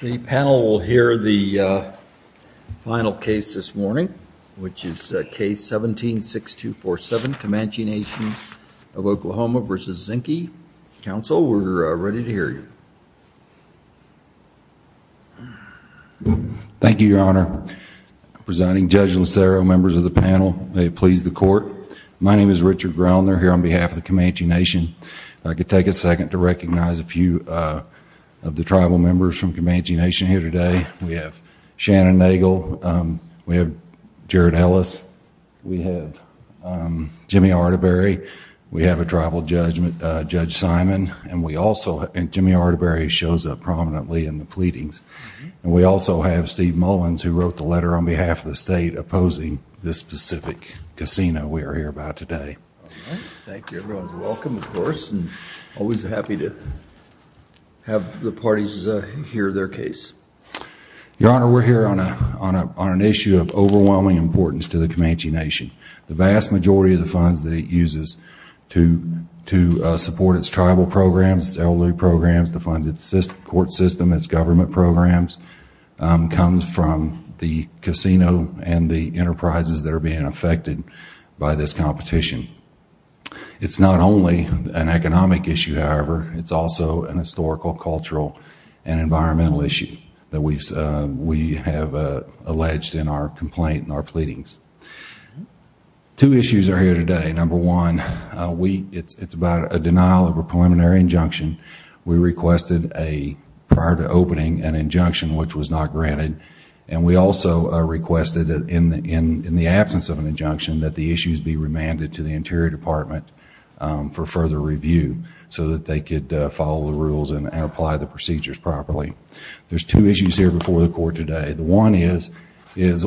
The panel will hear the final case this morning, which is Case 17-6247, Comanche Nation of Oklahoma v. Zinke. Counsel, we're ready to hear you. Thank you, Your Honor. I'm presiding. Judge Locero, members of the panel, may it please the Court. My name is Richard Groner here on behalf of the Comanche Nation. I'd like to take a second to recognize a few of the tribal members from Comanche Nation here today. We have Shannon Nagel, we have Jared Ellis, we have Jimmy Arterbury, we have a tribal judge, Judge Simon, and Jimmy Arterbury shows up prominently in the pleadings. We also have Steve Mullins, who wrote the letter on behalf of the state opposing this specific casino we are here about today. Thank you, everyone. Welcome, of course, and always happy to have the parties hear their case. Your Honor, we're here on an issue of overwhelming importance to the Comanche Nation. The vast majority of the funds that it uses to support its tribal programs, its elderly programs, to fund its court system, its government programs, comes from the casino and the enterprises that are being affected by this competition. It's not only an economic issue, however, it's also an historical, cultural, and environmental issue that we have alleged in our complaint and our pleadings. Two issues are here today. Number one, it's about a denial of a preliminary injunction. We requested, prior to opening, an injunction which was not granted. We also requested, in the absence of an injunction, that the issues be remanded to the Interior Department for further review so that they could follow the rules and apply the procedures properly. There are two issues here before the Court today. The one is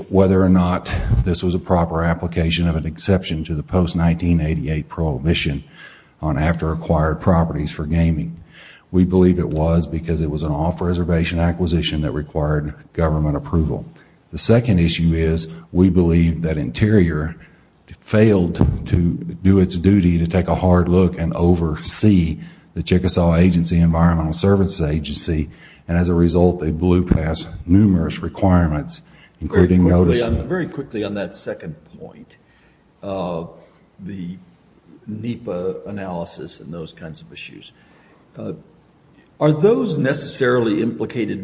whether or not this was a proper application of an exception to the post-1988 prohibition on after-acquired properties for gaming. We believe it was because it was an off-reservation acquisition that required government approval. The second issue is, we believe that Interior failed to do its duty to take a hard look and oversee the Chickasaw Agency Environmental Services Agency, and as a result, they blew past numerous requirements, including notice of... Are those necessarily implicated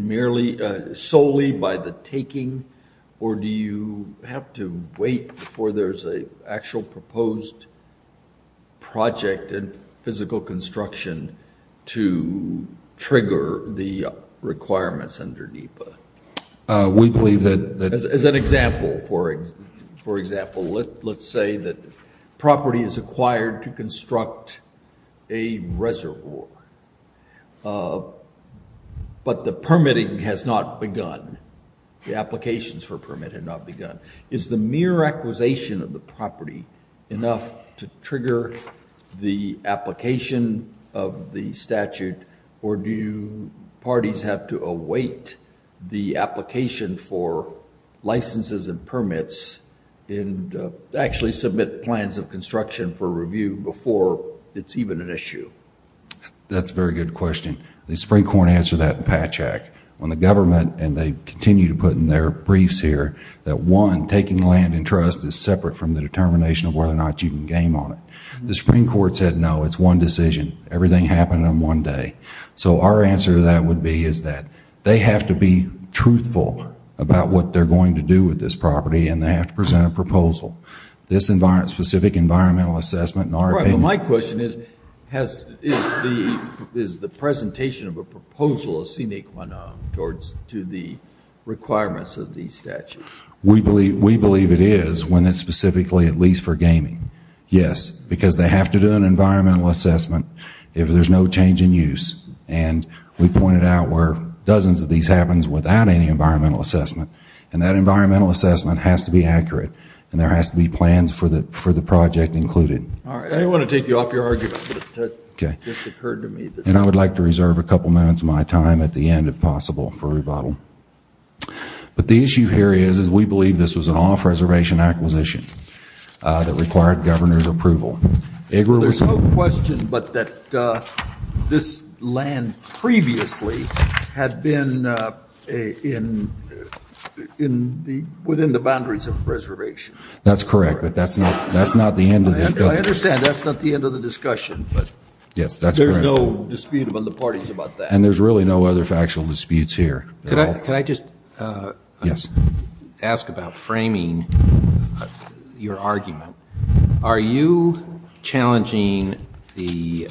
solely by the taking, or do you have to wait before there's an actual proposed project and physical construction to trigger the requirements under NEPA? We believe that... As an example, for example, let's say that property is acquired to construct a reservoir. But the permitting has not begun, the applications for permit have not begun. Is the mere acquisition of the property enough to trigger the application of the statute, or do parties have to await the application for licenses and permits and actually submit plans of construction for review before it's even an issue? That's a very good question. The Supreme Court answered that in Patch Act, when the government, and they continue to put in their briefs here, that one, taking land in trust is separate from the determination of whether or not you can game on it. The Supreme Court said no, it's one decision, everything happened in one day. So our answer to that would be is that they have to be truthful about what they're going to do with this property, and they have to present a proposal. This specific environmental assessment... My question is, is the presentation of a proposal a sine qua non to the requirements of the statute? We believe it is, when it's specifically at least for gaming, yes. Because they have to do an environmental assessment if there's no change in use. And we pointed out where dozens of these happens without any environmental assessment. And that environmental assessment has to be accurate, and there has to be plans for the project included. I didn't want to take you off your argument, but it just occurred to me that... And I would like to reserve a couple minutes of my time at the end, if possible, for rebuttal. But the issue here is, is we believe this was an off-reservation acquisition that required governor's approval. There's no question but that this land previously had been within the boundaries of a reservation. That's correct, but that's not the end of the... I understand that's not the end of the discussion, but there's no dispute among the parties about that. And there's really no other factual disputes here. Can I just ask about framing your argument? Are you challenging the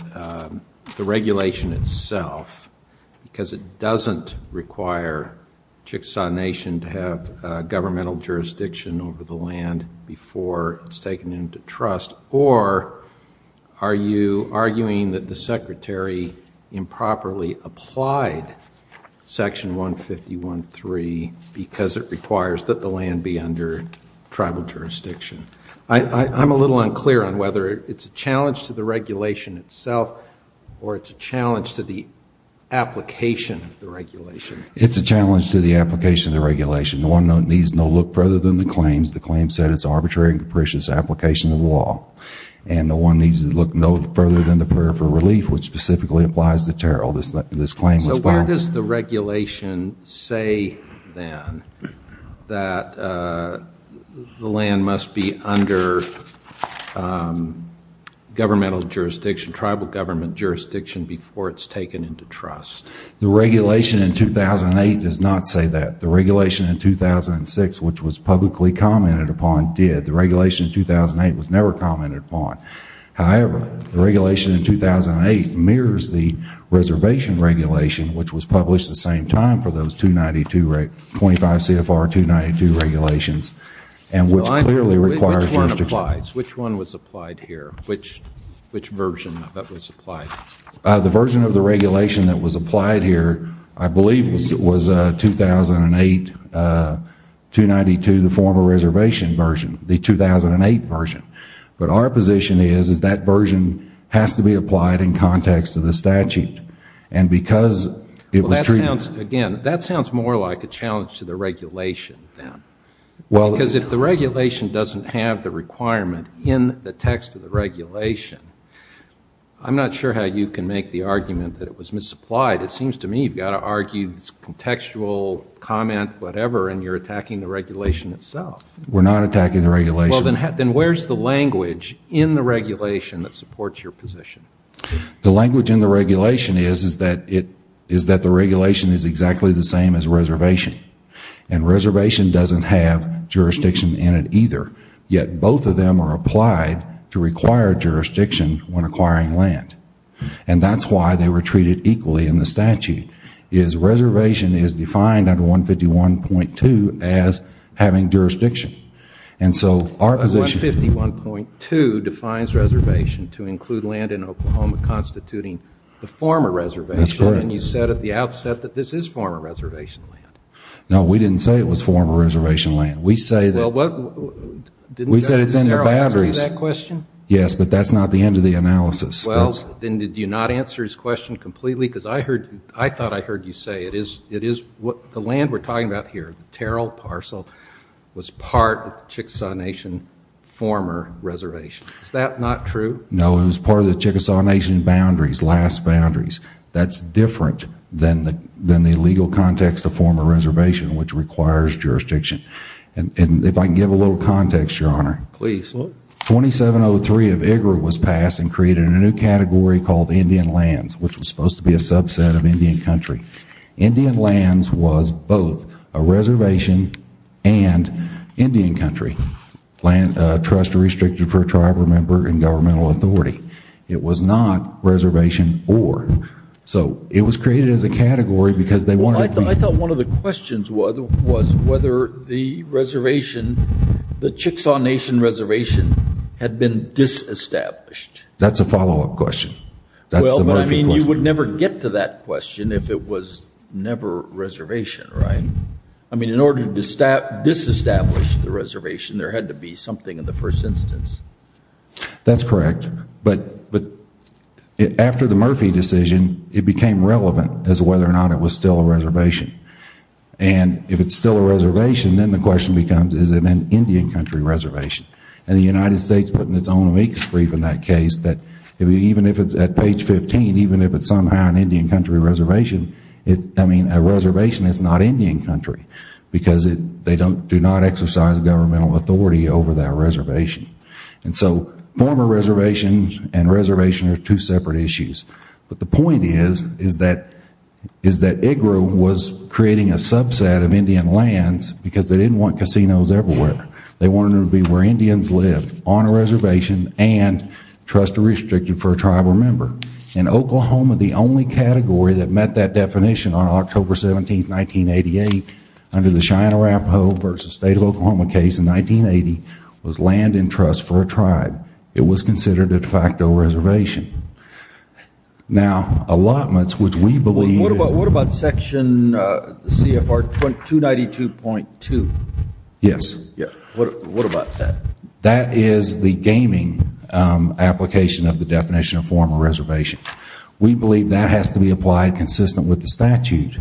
regulation itself because it doesn't require Chickasaw Nation to have governmental jurisdiction over the land before it's taken into trust? Or are you arguing that the secretary improperly applied Section 151.3 because it requires that the land be under tribal jurisdiction? I'm a little unclear on whether it's a challenge to the regulation itself or it's a challenge to the application of the regulation. It's a challenge to the application of the regulation. No one needs to look further than the claims. The claims said it's arbitrary and capricious application of the law. And no one needs to look no further than the prayer for relief, which specifically applies to Terrell. This claim was found... Where does the regulation say then that the land must be under governmental jurisdiction, tribal government jurisdiction before it's taken into trust? The regulation in 2008 does not say that. The regulation in 2006, which was publicly commented upon, did. The regulation in 2008 was never commented upon. However, the regulation in 2008 mirrors the reservation regulation, which was published the same time for those 292, 25 CFR 292 regulations, and which clearly requires jurisdiction. Which one applies? Which one was applied here? Which version that was applied? The version of the regulation that was applied here, I believe, was 2008 292, the former reservation version, the 2008 version. But our position is, is that version has to be applied in context of the statute. And because it was treated... Well, that sounds... Again, that sounds more like a challenge to the regulation then. Well... Because if the regulation doesn't have the requirement in the text of the regulation, I'm not sure how you can make the argument that it was misapplied. It seems to me you've got to argue this contextual comment, whatever, and you're attacking the regulation itself. We're not attacking the regulation. Well, then where's the language in the regulation that supports your position? The language in the regulation is, is that it, is that the regulation is exactly the same as reservation. And reservation doesn't have jurisdiction in it either, yet both of them are applied to require jurisdiction when acquiring land. And that's why they were treated equally in the statute, is reservation is defined under 151.2 as having jurisdiction. And so, our position... But 151.2 defines reservation to include land in Oklahoma constituting the former reservation. That's correct. And you said at the outset that this is former reservation land. No, we didn't say it was former reservation land. We say that... Well, what... We said it's in the batteries. Didn't Justice Terrell answer you that question? Yes, but that's not the end of the analysis. Well, then did you not answer his question completely? Because I heard, I thought I heard you say it is, it is what, the land we're talking about here, Terrell Parcel, was part of the Chickasaw Nation former reservation, is that not true? No, it was part of the Chickasaw Nation boundaries, last boundaries. That's different than the legal context of former reservation, which requires jurisdiction. And if I can give a little context, Your Honor. Please. 2703 of IGRA was passed and created a new category called Indian lands, which was supposed to be a subset of Indian country. Indian lands was both a reservation and Indian country. Trust restricted for a tribe or member in governmental authority. It was not reservation or. So it was created as a category because they wanted... Well, I thought one of the questions was whether the reservation, the Chickasaw Nation reservation had been disestablished. That's a follow-up question. That's the Murphy question. You would never get to that question if it was never reservation, right? I mean, in order to disestablish the reservation, there had to be something in the first instance. That's correct. But after the Murphy decision, it became relevant as to whether or not it was still a reservation. And if it's still a reservation, then the question becomes, is it an Indian country reservation? And the United States put in its own amicus brief in that case that even if it's at page 15, even if it's somehow an Indian country reservation, I mean, a reservation is not Indian country because they do not exercise governmental authority over that reservation. And so former reservation and reservation are two separate issues. But the point is that IGRU was creating a subset of Indian lands because they didn't want casinos everywhere. They wanted it to be where Indians lived on a reservation and trust restricted for a tribe member. And Oklahoma, the only category that met that definition on October 17, 1988, under the Cheyenne-Arapaho v. State of Oklahoma case in 1980, was land and trust for a tribe. It was considered a de facto reservation. Now allotments, which we believe What about Section CFR 292.2? Yes. What about that? That is the gaming application of the definition of former reservation. We believe that has to be applied consistent with the statute,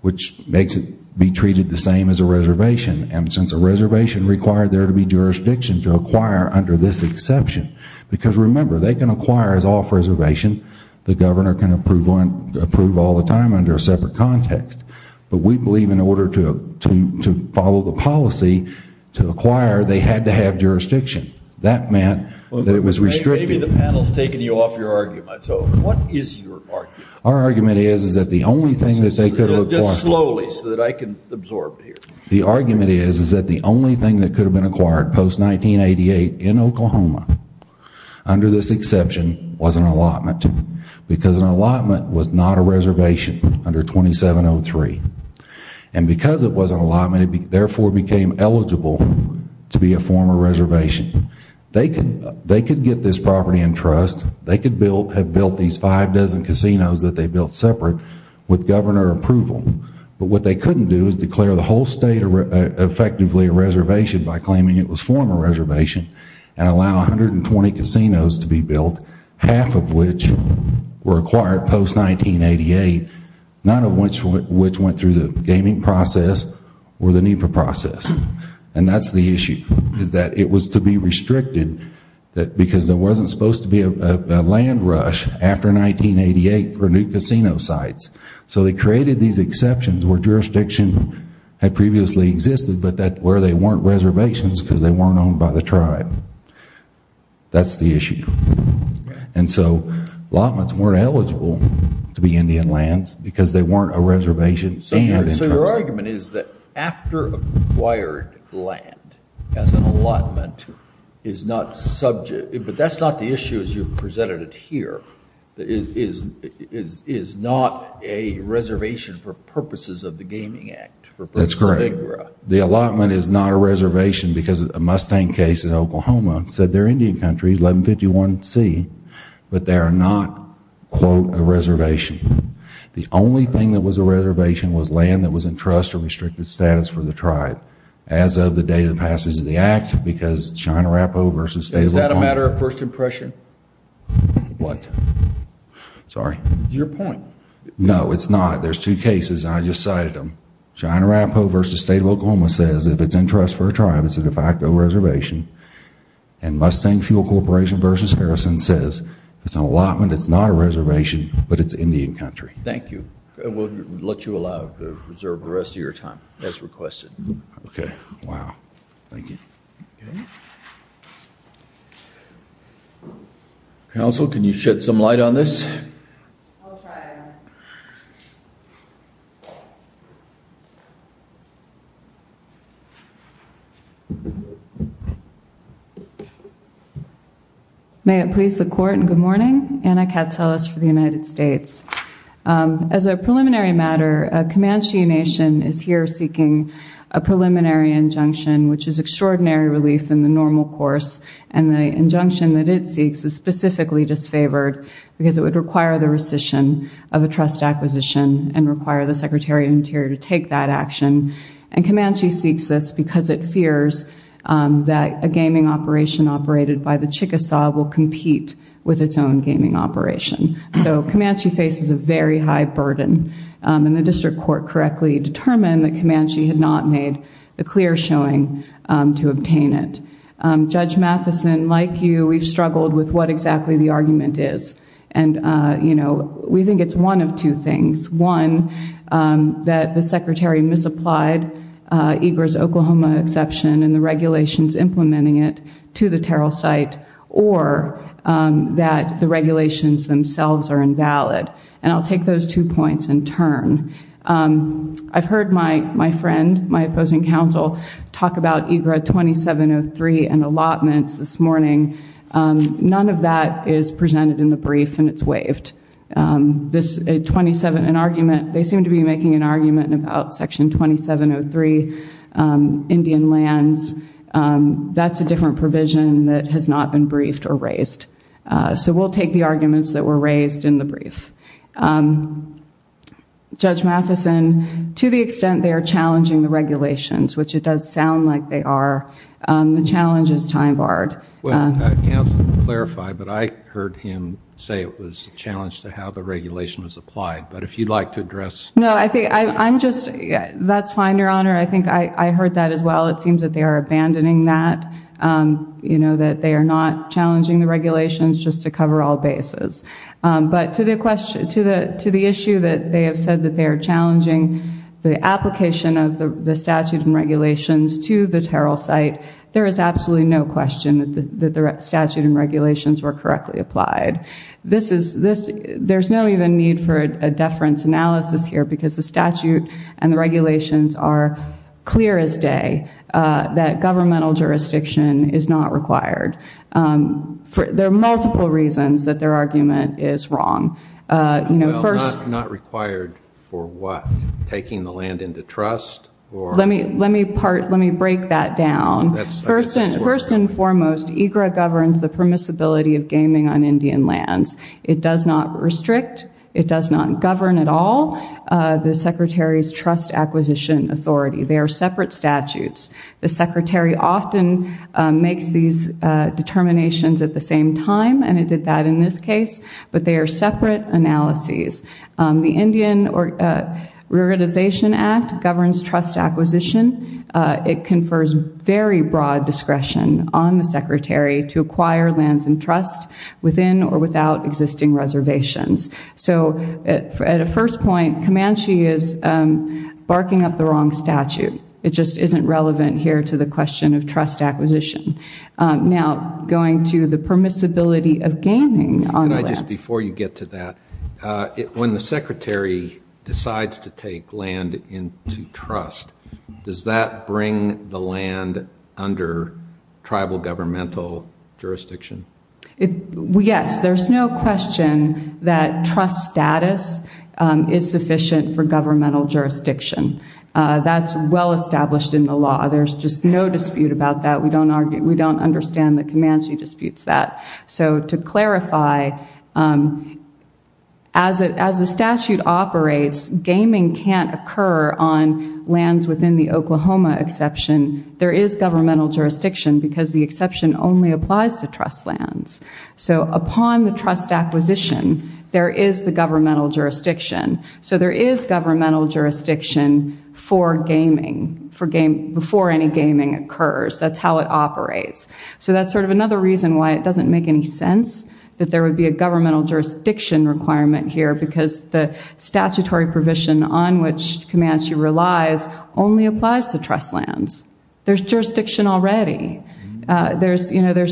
which makes it be treated the same as a reservation. And since a reservation required there to be jurisdiction to acquire under this exception, because remember, they can acquire as off-reservation. The governor can approve all the time under a separate context. But we believe in order to follow the policy to acquire, they had to have jurisdiction. That meant that it was restricted. Maybe the panel has taken you off your argument. So what is your argument? Our argument is that the only thing that they could have acquired Just slowly so that I can absorb it here. The argument is that the only thing that could have been acquired post 1988 in Oklahoma under this exception was an allotment. Because an allotment was not a reservation under 2703. And because it was an allotment, it therefore became eligible to be a former reservation. They could get this property in trust. They could have built these five dozen casinos that they built separate with governor approval. But what they couldn't do is declare the whole state effectively a reservation by claiming it was a former reservation and allow 120 casinos to be built, half of which were acquired post 1988, none of which went through the gaming process or the NEPA process. And that's the issue, is that it was to be restricted because there wasn't supposed to be a land rush after 1988 for new casino sites. So they created these exceptions where jurisdiction had previously existed, but where they weren't reservations because they weren't owned by the tribe. That's the issue. And so allotments weren't eligible to be Indian lands because they weren't a reservation. So your argument is that after acquired land as an allotment is not subject, but that's not the issue as you've presented it here, is not a reservation for purposes of the Gaming Act. That's correct. The allotment is not a reservation because a Mustang case in Oklahoma said they're Indian countries, 1151C, but they are not, quote, a reservation. The only thing that was a reservation was land that was in trust or restricted status for the tribe as of the date of passage of the act because China Rappo v. State of Oklahoma. Is that a matter of first impression? What? Sorry. It's your point. No, it's not. There's two cases and I just cited them. China Rappo v. State of Oklahoma says if it's in trust for a tribe, it's a de facto reservation. And Mustang Fuel Corporation v. Harrison says it's an allotment, it's not a reservation, but it's Indian country. Thank you. We'll let you allow to reserve the rest of your time as requested. Okay. Wow. Thank you. Counsel, can you shed some light on this? I'll try. May it please the court and good morning. Anna Katselas for the United States. As a preliminary matter, Comanche Nation is here seeking a preliminary injunction, which is extraordinary relief in the normal course, and the injunction that it seeks is specifically disfavored because it would require the rescission of a trust acquisition and require the Secretary of Interior to take that action. And Comanche seeks this because it fears that a gaming operation operated by the Chickasaw will compete with its own gaming operation. So Comanche faces a very high burden and the district court correctly determined that Comanche had not made a clear showing to obtain it. Judge Matheson, like you, we've struggled with what exactly the argument is. And you know, we think it's one of two things. One, that the Secretary misapplied EGRA's Oklahoma exception and the regulations implementing it to the Terrell site, or that the regulations themselves are invalid. And I'll take those two points in turn. I've heard my friend, my opposing counsel, talk about EGRA 2703 and allotments this morning. None of that is presented in the brief and it's waived. They seem to be making an argument about Section 2703, Indian lands. That's a different provision that has not been briefed or raised. So we'll take the arguments that were raised in the brief. Judge Matheson, to the extent they are challenging the regulations, which it does sound like they are, the challenge is time barred. Well, counsel, to clarify, but I heard him say it was a challenge to how the regulation was applied. But if you'd like to address... No, I think I'm just... That's fine, Your Honor. I think I heard that as well. It seems that they are abandoning that. You know, that they are not challenging the regulations just to cover all bases. But to the issue that they have said that they are challenging the application of the statute and regulations to the Terrell site, there is absolutely no question that the statute and regulations were correctly applied. There's no even need for a deference analysis here because the statute and the regulations are clear as day that governmental jurisdiction is not required. There are multiple reasons that their argument is wrong. Well, not required for what? Let me break that down. First and foremost, EGRA governs the permissibility of gaming on Indian lands. It does not restrict. It does not govern at all the Secretary's trust acquisition authority. They are separate statutes. The Secretary often makes these determinations at the same time, and it did that in this case. But they are separate analyses. The Indian Reorganization Act governs trust acquisition. It confers very broad discretion on the Secretary to acquire lands and trust within or without existing reservations. So at a first point, Comanche is barking up the wrong statute. It just isn't relevant here to the question of trust acquisition. Now, going to the permissibility of gaming on the lands. Before you get to that, when the Secretary decides to take land into trust, does that bring the land under tribal governmental jurisdiction? Yes. There's no question that trust status is sufficient for governmental jurisdiction. That's well established in the law. There's just no dispute about that. We don't understand that Comanche disputes that. So to clarify, as the statute operates, gaming can't occur on lands within the Oklahoma exception. There is governmental jurisdiction, because the exception only applies to trust lands. So upon the trust acquisition, there is the governmental jurisdiction. So there is governmental jurisdiction for gaming, before any gaming occurs. That's how it operates. So that's sort of another reason why it doesn't make any sense that there would be a governmental jurisdiction requirement here, because the statutory provision on which Comanche relies only applies to trust lands. There's jurisdiction already. The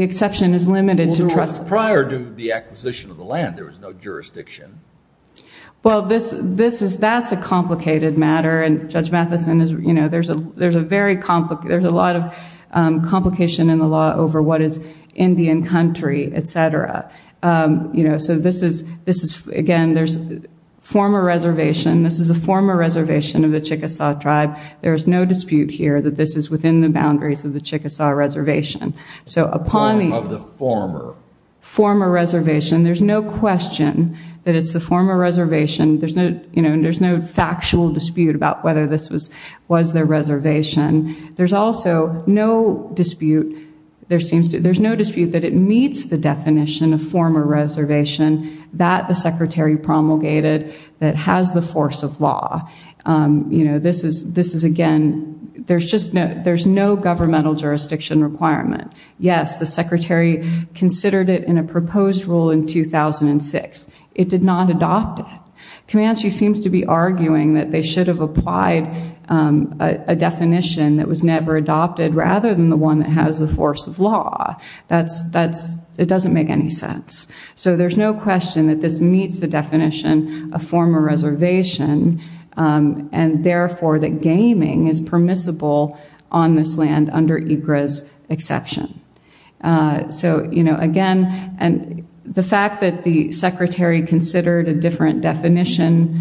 exception is limited to trust lands. Prior to the acquisition of the land, there was no jurisdiction. Well, that's a complicated matter. Judge Matheson, there's a lot of complication in the law over what is Indian country, etc. So this is, again, there's former reservation. This is a former reservation of the Chickasaw tribe. There's no dispute here that this is within the boundaries of the Chickasaw reservation. So upon the former reservation, there's no question that it's a former reservation. There's no factual dispute about whether this was their reservation. There's also no dispute that it meets the definition of former reservation that the Secretary promulgated that has the force of law. This is, again, there's no governmental jurisdiction requirement. Yes, the Secretary considered it in a proposed rule in 2006. It did not adopt it. Comanche seems to be arguing that they should have applied a definition that was never adopted rather than the one that has the force of law. It doesn't make any sense. So there's no question that this meets the definition of former reservation and, therefore, that gaming is permissible on this land under EGRA's exception. So, again, the fact that the Secretary considered a different definition,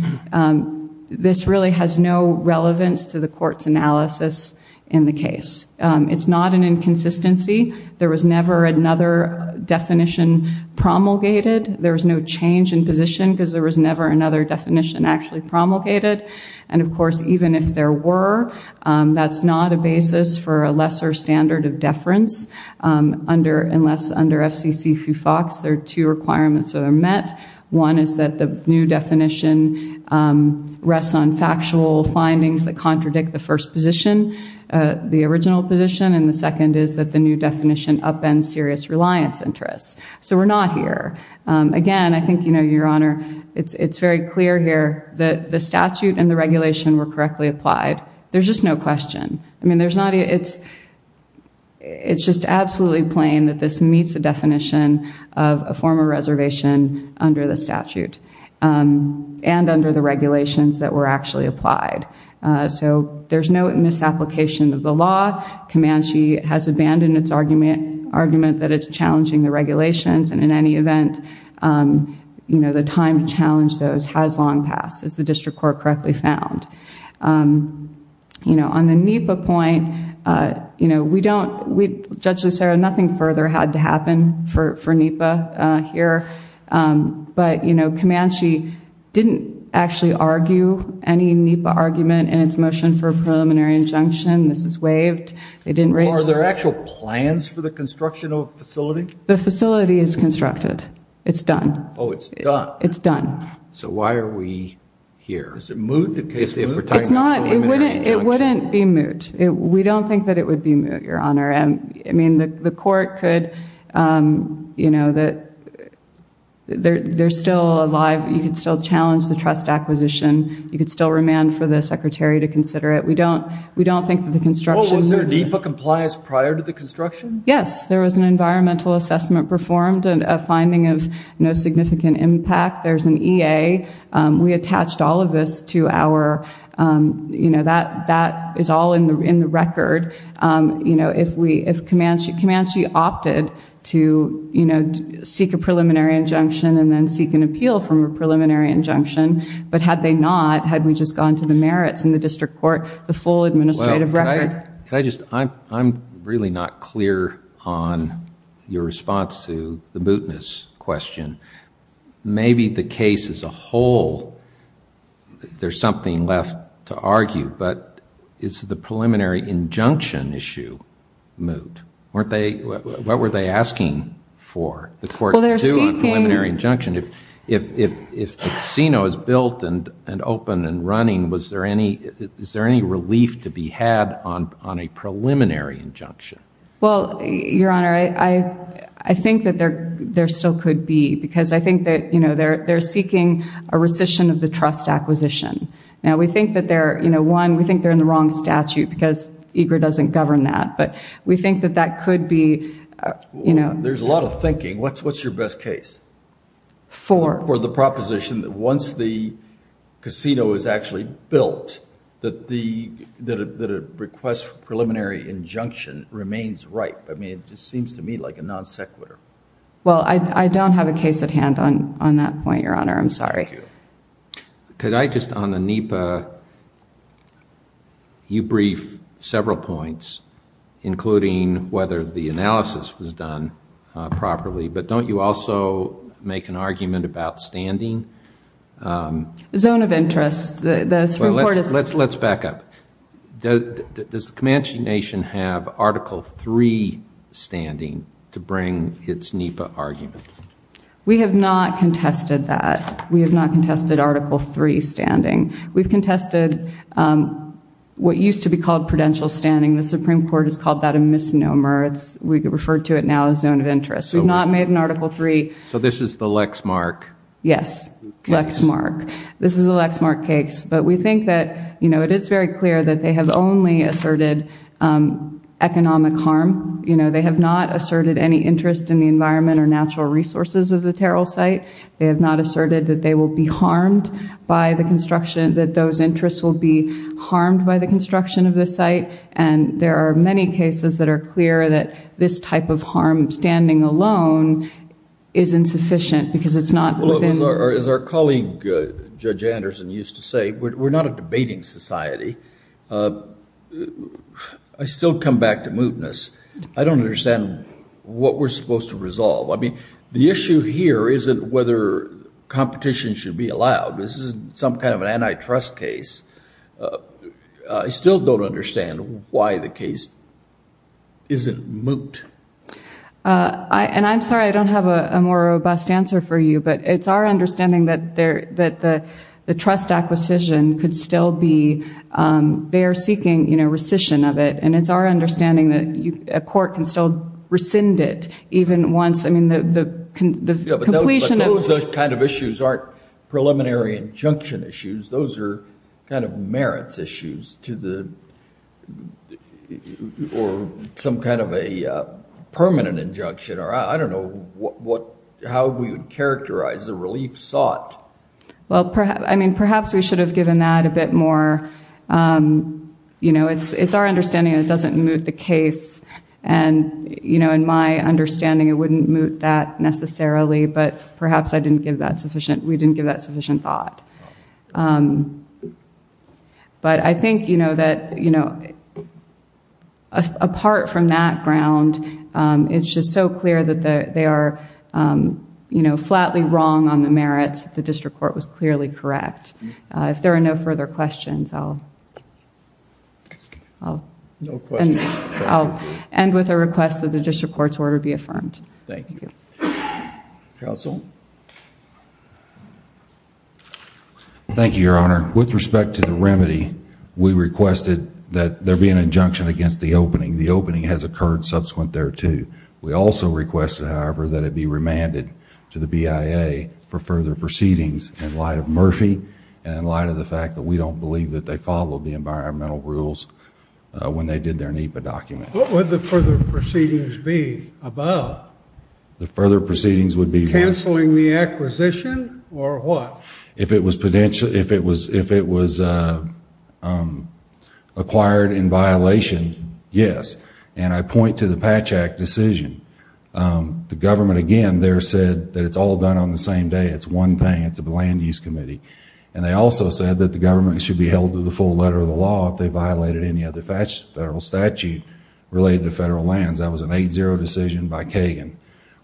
this really has no relevance to the court's analysis in the case. It's not an inconsistency. There was never another definition promulgated. There was no change in position because there was never another definition actually promulgated. And, of course, even if there were, that's not a basis for a lesser standard of deference. Unless under FCC FUFOX, there are two requirements that are met. One is that the new definition rests on factual findings that contradict the first position, the original position. And the second is that the new definition upends serious reliance interests. So we're not here. Again, I think you know, Your Honor, it's very clear here that the statute and the regulation were correctly applied. There's just no question. I mean, it's just absolutely plain that this meets the definition of a former reservation under the statute and under the regulations that were actually applied. So there's no misapplication of the law. Comanche has abandoned its argument that it's challenging the regulations. And in any event, you know, the time to challenge those has long passed, as the District Court correctly found. You know, on the NEPA point, you know, we don't... Judge Lucero, nothing further had to happen for NEPA here. But, you know, Comanche didn't actually argue any NEPA argument in its motion for a preliminary injunction. This is waived. They didn't raise... Are there actual plans for the construction of a facility? The facility is constructed. It's done. Oh, it's done. It's done. So why are we here? Is it moot? It's moot? It's not. It wouldn't be moot. We don't think that it would be moot, Your Honor. I mean, the court could... You know, there's still a live... You could still challenge the trust acquisition. You could still remand for the secretary to consider it. We don't think that the construction... Was there a NEPA compliance prior to the construction? Yes, there was an environmental assessment performed and a finding of no significant impact. There's an EA. We attached all of this to our... You know, that is all in the record. You know, if Comanche opted to, you know, seek a preliminary injunction and then seek an appeal from a preliminary injunction, but had they not, had we just gone to the merits in the district court, the full administrative record... Can I just... I'm really not clear on your response to the mootness question. Maybe the case as a whole, there's something left to argue, but is the preliminary injunction issue moot? Weren't they... What were they asking for the court to do on preliminary injunction? Well, they're seeking... If the casino is built and open and running, was there any... Is there any relief to be had on a preliminary injunction? Well, Your Honor, I think that there still could be because I think that, you know, they're seeking a rescission of the trust acquisition. Now, we think that they're... You know, one, we think they're in the wrong statute because EGRA doesn't govern that, but we think that that could be, you know... There's a lot of thinking. What's your best case? For... For the proposition that once the casino is actually built, that a request for preliminary injunction remains ripe. I mean, it just seems to me like a non sequitur. Well, I don't have a case at hand on that point, Your Honor. I'm sorry. Thank you. Could I just... On the NEPA, you brief several points, including whether the analysis was done properly, but don't you also make an argument about standing? Zone of interest. This report is... Let's back up. Does the Comanche Nation have Article III standing to bring its NEPA argument? We have not contested that. We have not contested Article III standing. We've contested what used to be called prudential standing. The Supreme Court has called that a misnomer. We refer to it now as zone of interest. We've not made an Article III... So, this is the Lexmark case. Yes, Lexmark. This is a Lexmark case, but we think that, you know, it is very clear that they have only asserted economic harm. You know, they have not asserted any interest in the environment or natural resources of the Terrell site. They have not asserted that they will be harmed by the construction... that those interests will be harmed by the construction of the site. And there are many cases that are clear that this type of harm, standing alone, is insufficient because it's not within... As our colleague, Judge Anderson, used to say, we're not a debating society. I still come back to mootness. I don't understand what we're supposed to resolve. I mean, the issue here isn't whether competition should be allowed. This isn't some kind of an antitrust case. I still don't understand why the case isn't moot. And I'm sorry, I don't have a more robust answer for you, but it's our understanding that the trust acquisition could still be... they are seeking, you know, rescission of it. And it's our understanding that a court can still rescind it even once... I mean, the completion of... Yeah, but those kind of issues aren't preliminary injunction issues. Those are kind of merits issues to the... or some kind of a permanent injunction. I don't know how we would characterize the relief sought. Well, I mean, perhaps we should have given that a bit more... You know, it's our understanding that it doesn't moot the case. And, you know, in my understanding, it wouldn't moot that necessarily, but perhaps I didn't give that sufficient... we didn't give that sufficient thought. But I think, you know, that... it's just so clear that they are, you know, flatly wrong on the merits. The district court was clearly correct. If there are no further questions, I'll... No questions. I'll end with a request that the district court's order be affirmed. Thank you. Counsel? Thank you, Your Honor. With respect to the remedy, we requested that there be an injunction against the opening. The opening has occurred subsequent thereto. We also requested, however, that it be remanded to the BIA for further proceedings, in light of Murphy, and in light of the fact that we don't believe that they followed the environmental rules when they did their NEPA document. What would the further proceedings be about? The further proceedings would be... Canceling the acquisition, or what? If it was potential... if it was... acquired in violation, yes. I point to the Patch Act decision. The government, again, there said that it's all done on the same day. It's one thing. It's a land use committee. They also said that the government should be held to the full letter of the law if they violated any other federal statute related to federal lands. That was an 8-0 decision by Kagan.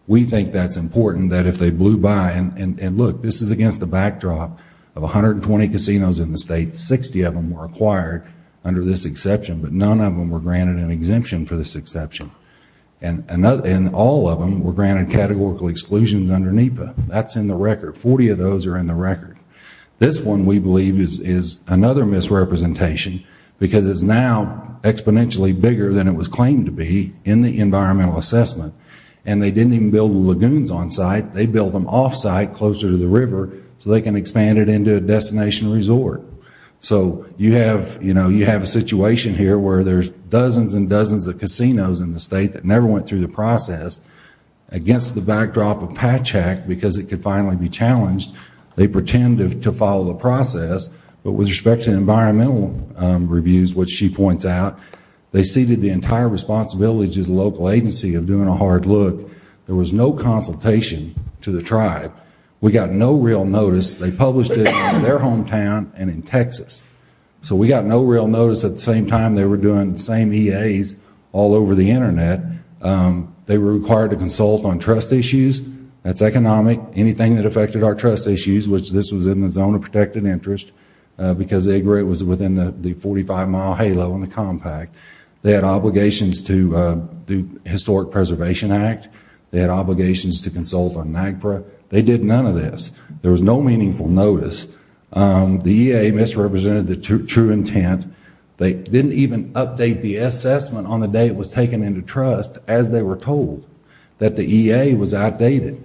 We think that's important, that if they blew by... Look, this is against the backdrop of 120 casinos in the state. Sixty of them were acquired under this exception, but none of them were granted an exemption for this exception. And all of them were granted categorical exclusions under NEPA. That's in the record. Forty of those are in the record. This one, we believe, is another misrepresentation because it's now exponentially bigger than it was claimed to be in the environmental assessment. And they didn't even build the lagoons onsite. They built them offsite, closer to the river, so they can expand it into a destination resort. So you have a situation here where there's dozens and dozens of casinos in the state that never went through the process. Against the backdrop of Patch Act, because it could finally be challenged, they pretend to follow the process, but with respect to environmental reviews, which she points out, they ceded the entire responsibility to the local agency of doing a hard look. There was no consultation to the tribe. We got no real notice. They published it in their hometown and in Texas. So we got no real notice at the same time they were doing the same EAs all over the Internet. They were required to consult on trust issues. That's economic. Anything that affected our trust issues, which this was in the zone of protected interest because they agree it was within the 45-mile halo in the compact. They had obligations to the Historic Preservation Act. They had obligations to consult on NAGPRA. They did none of this. There was no meaningful notice. The EA misrepresented the true intent. They didn't even update the assessment on the day it was taken into trust as they were told that the EA was outdated,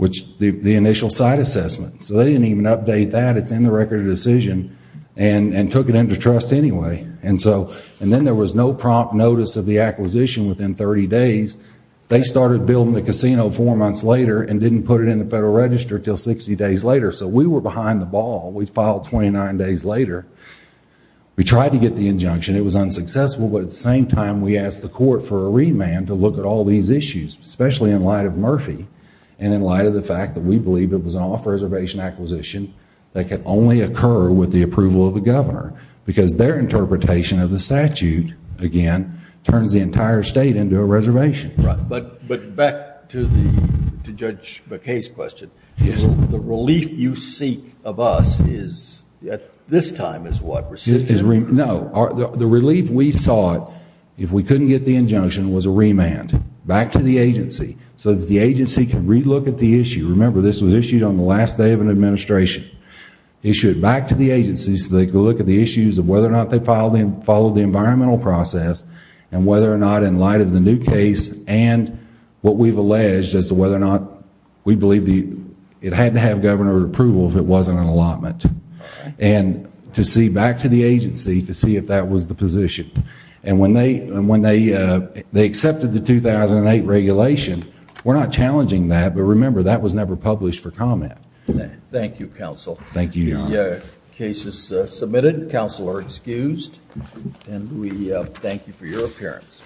the initial site assessment. They didn't even update that. It's in the Record of Decision and took it into trust anyway. Then there was no prompt notice of the acquisition within 30 days. They started building the casino four months later and didn't put it in the Federal Register until 60 days later. We were behind the ball. We filed 29 days later. We tried to get the injunction. It was unsuccessful, but at the same time we asked the court for a remand to look at all these issues, especially in light of Murphy and in light of the fact that we believe it was an off-reservation acquisition that could only occur with the approval of the governor because their interpretation of the statute, again, turns the entire state into a reservation. But back to Judge McKay's question. The relief you seek of us is this time is what? No. The relief we sought if we couldn't get the injunction was a remand back to the agency so that the agency could re-look at the issue. Remember, this was issued on the last day of an administration. Issued back to the agency so they could look at the issues of whether or not they followed the environmental process and whether or not in light of the new case and what we've alleged as to whether or not we believe it had to have governor approval if it wasn't an allotment. To see back to the agency to see if that was the position. When they accepted the 2008 regulation, we're not challenging that, but remember that was never published for comment. Thank you, counsel. The case is submitted. Counsel are excused. And we thank you for your appearance.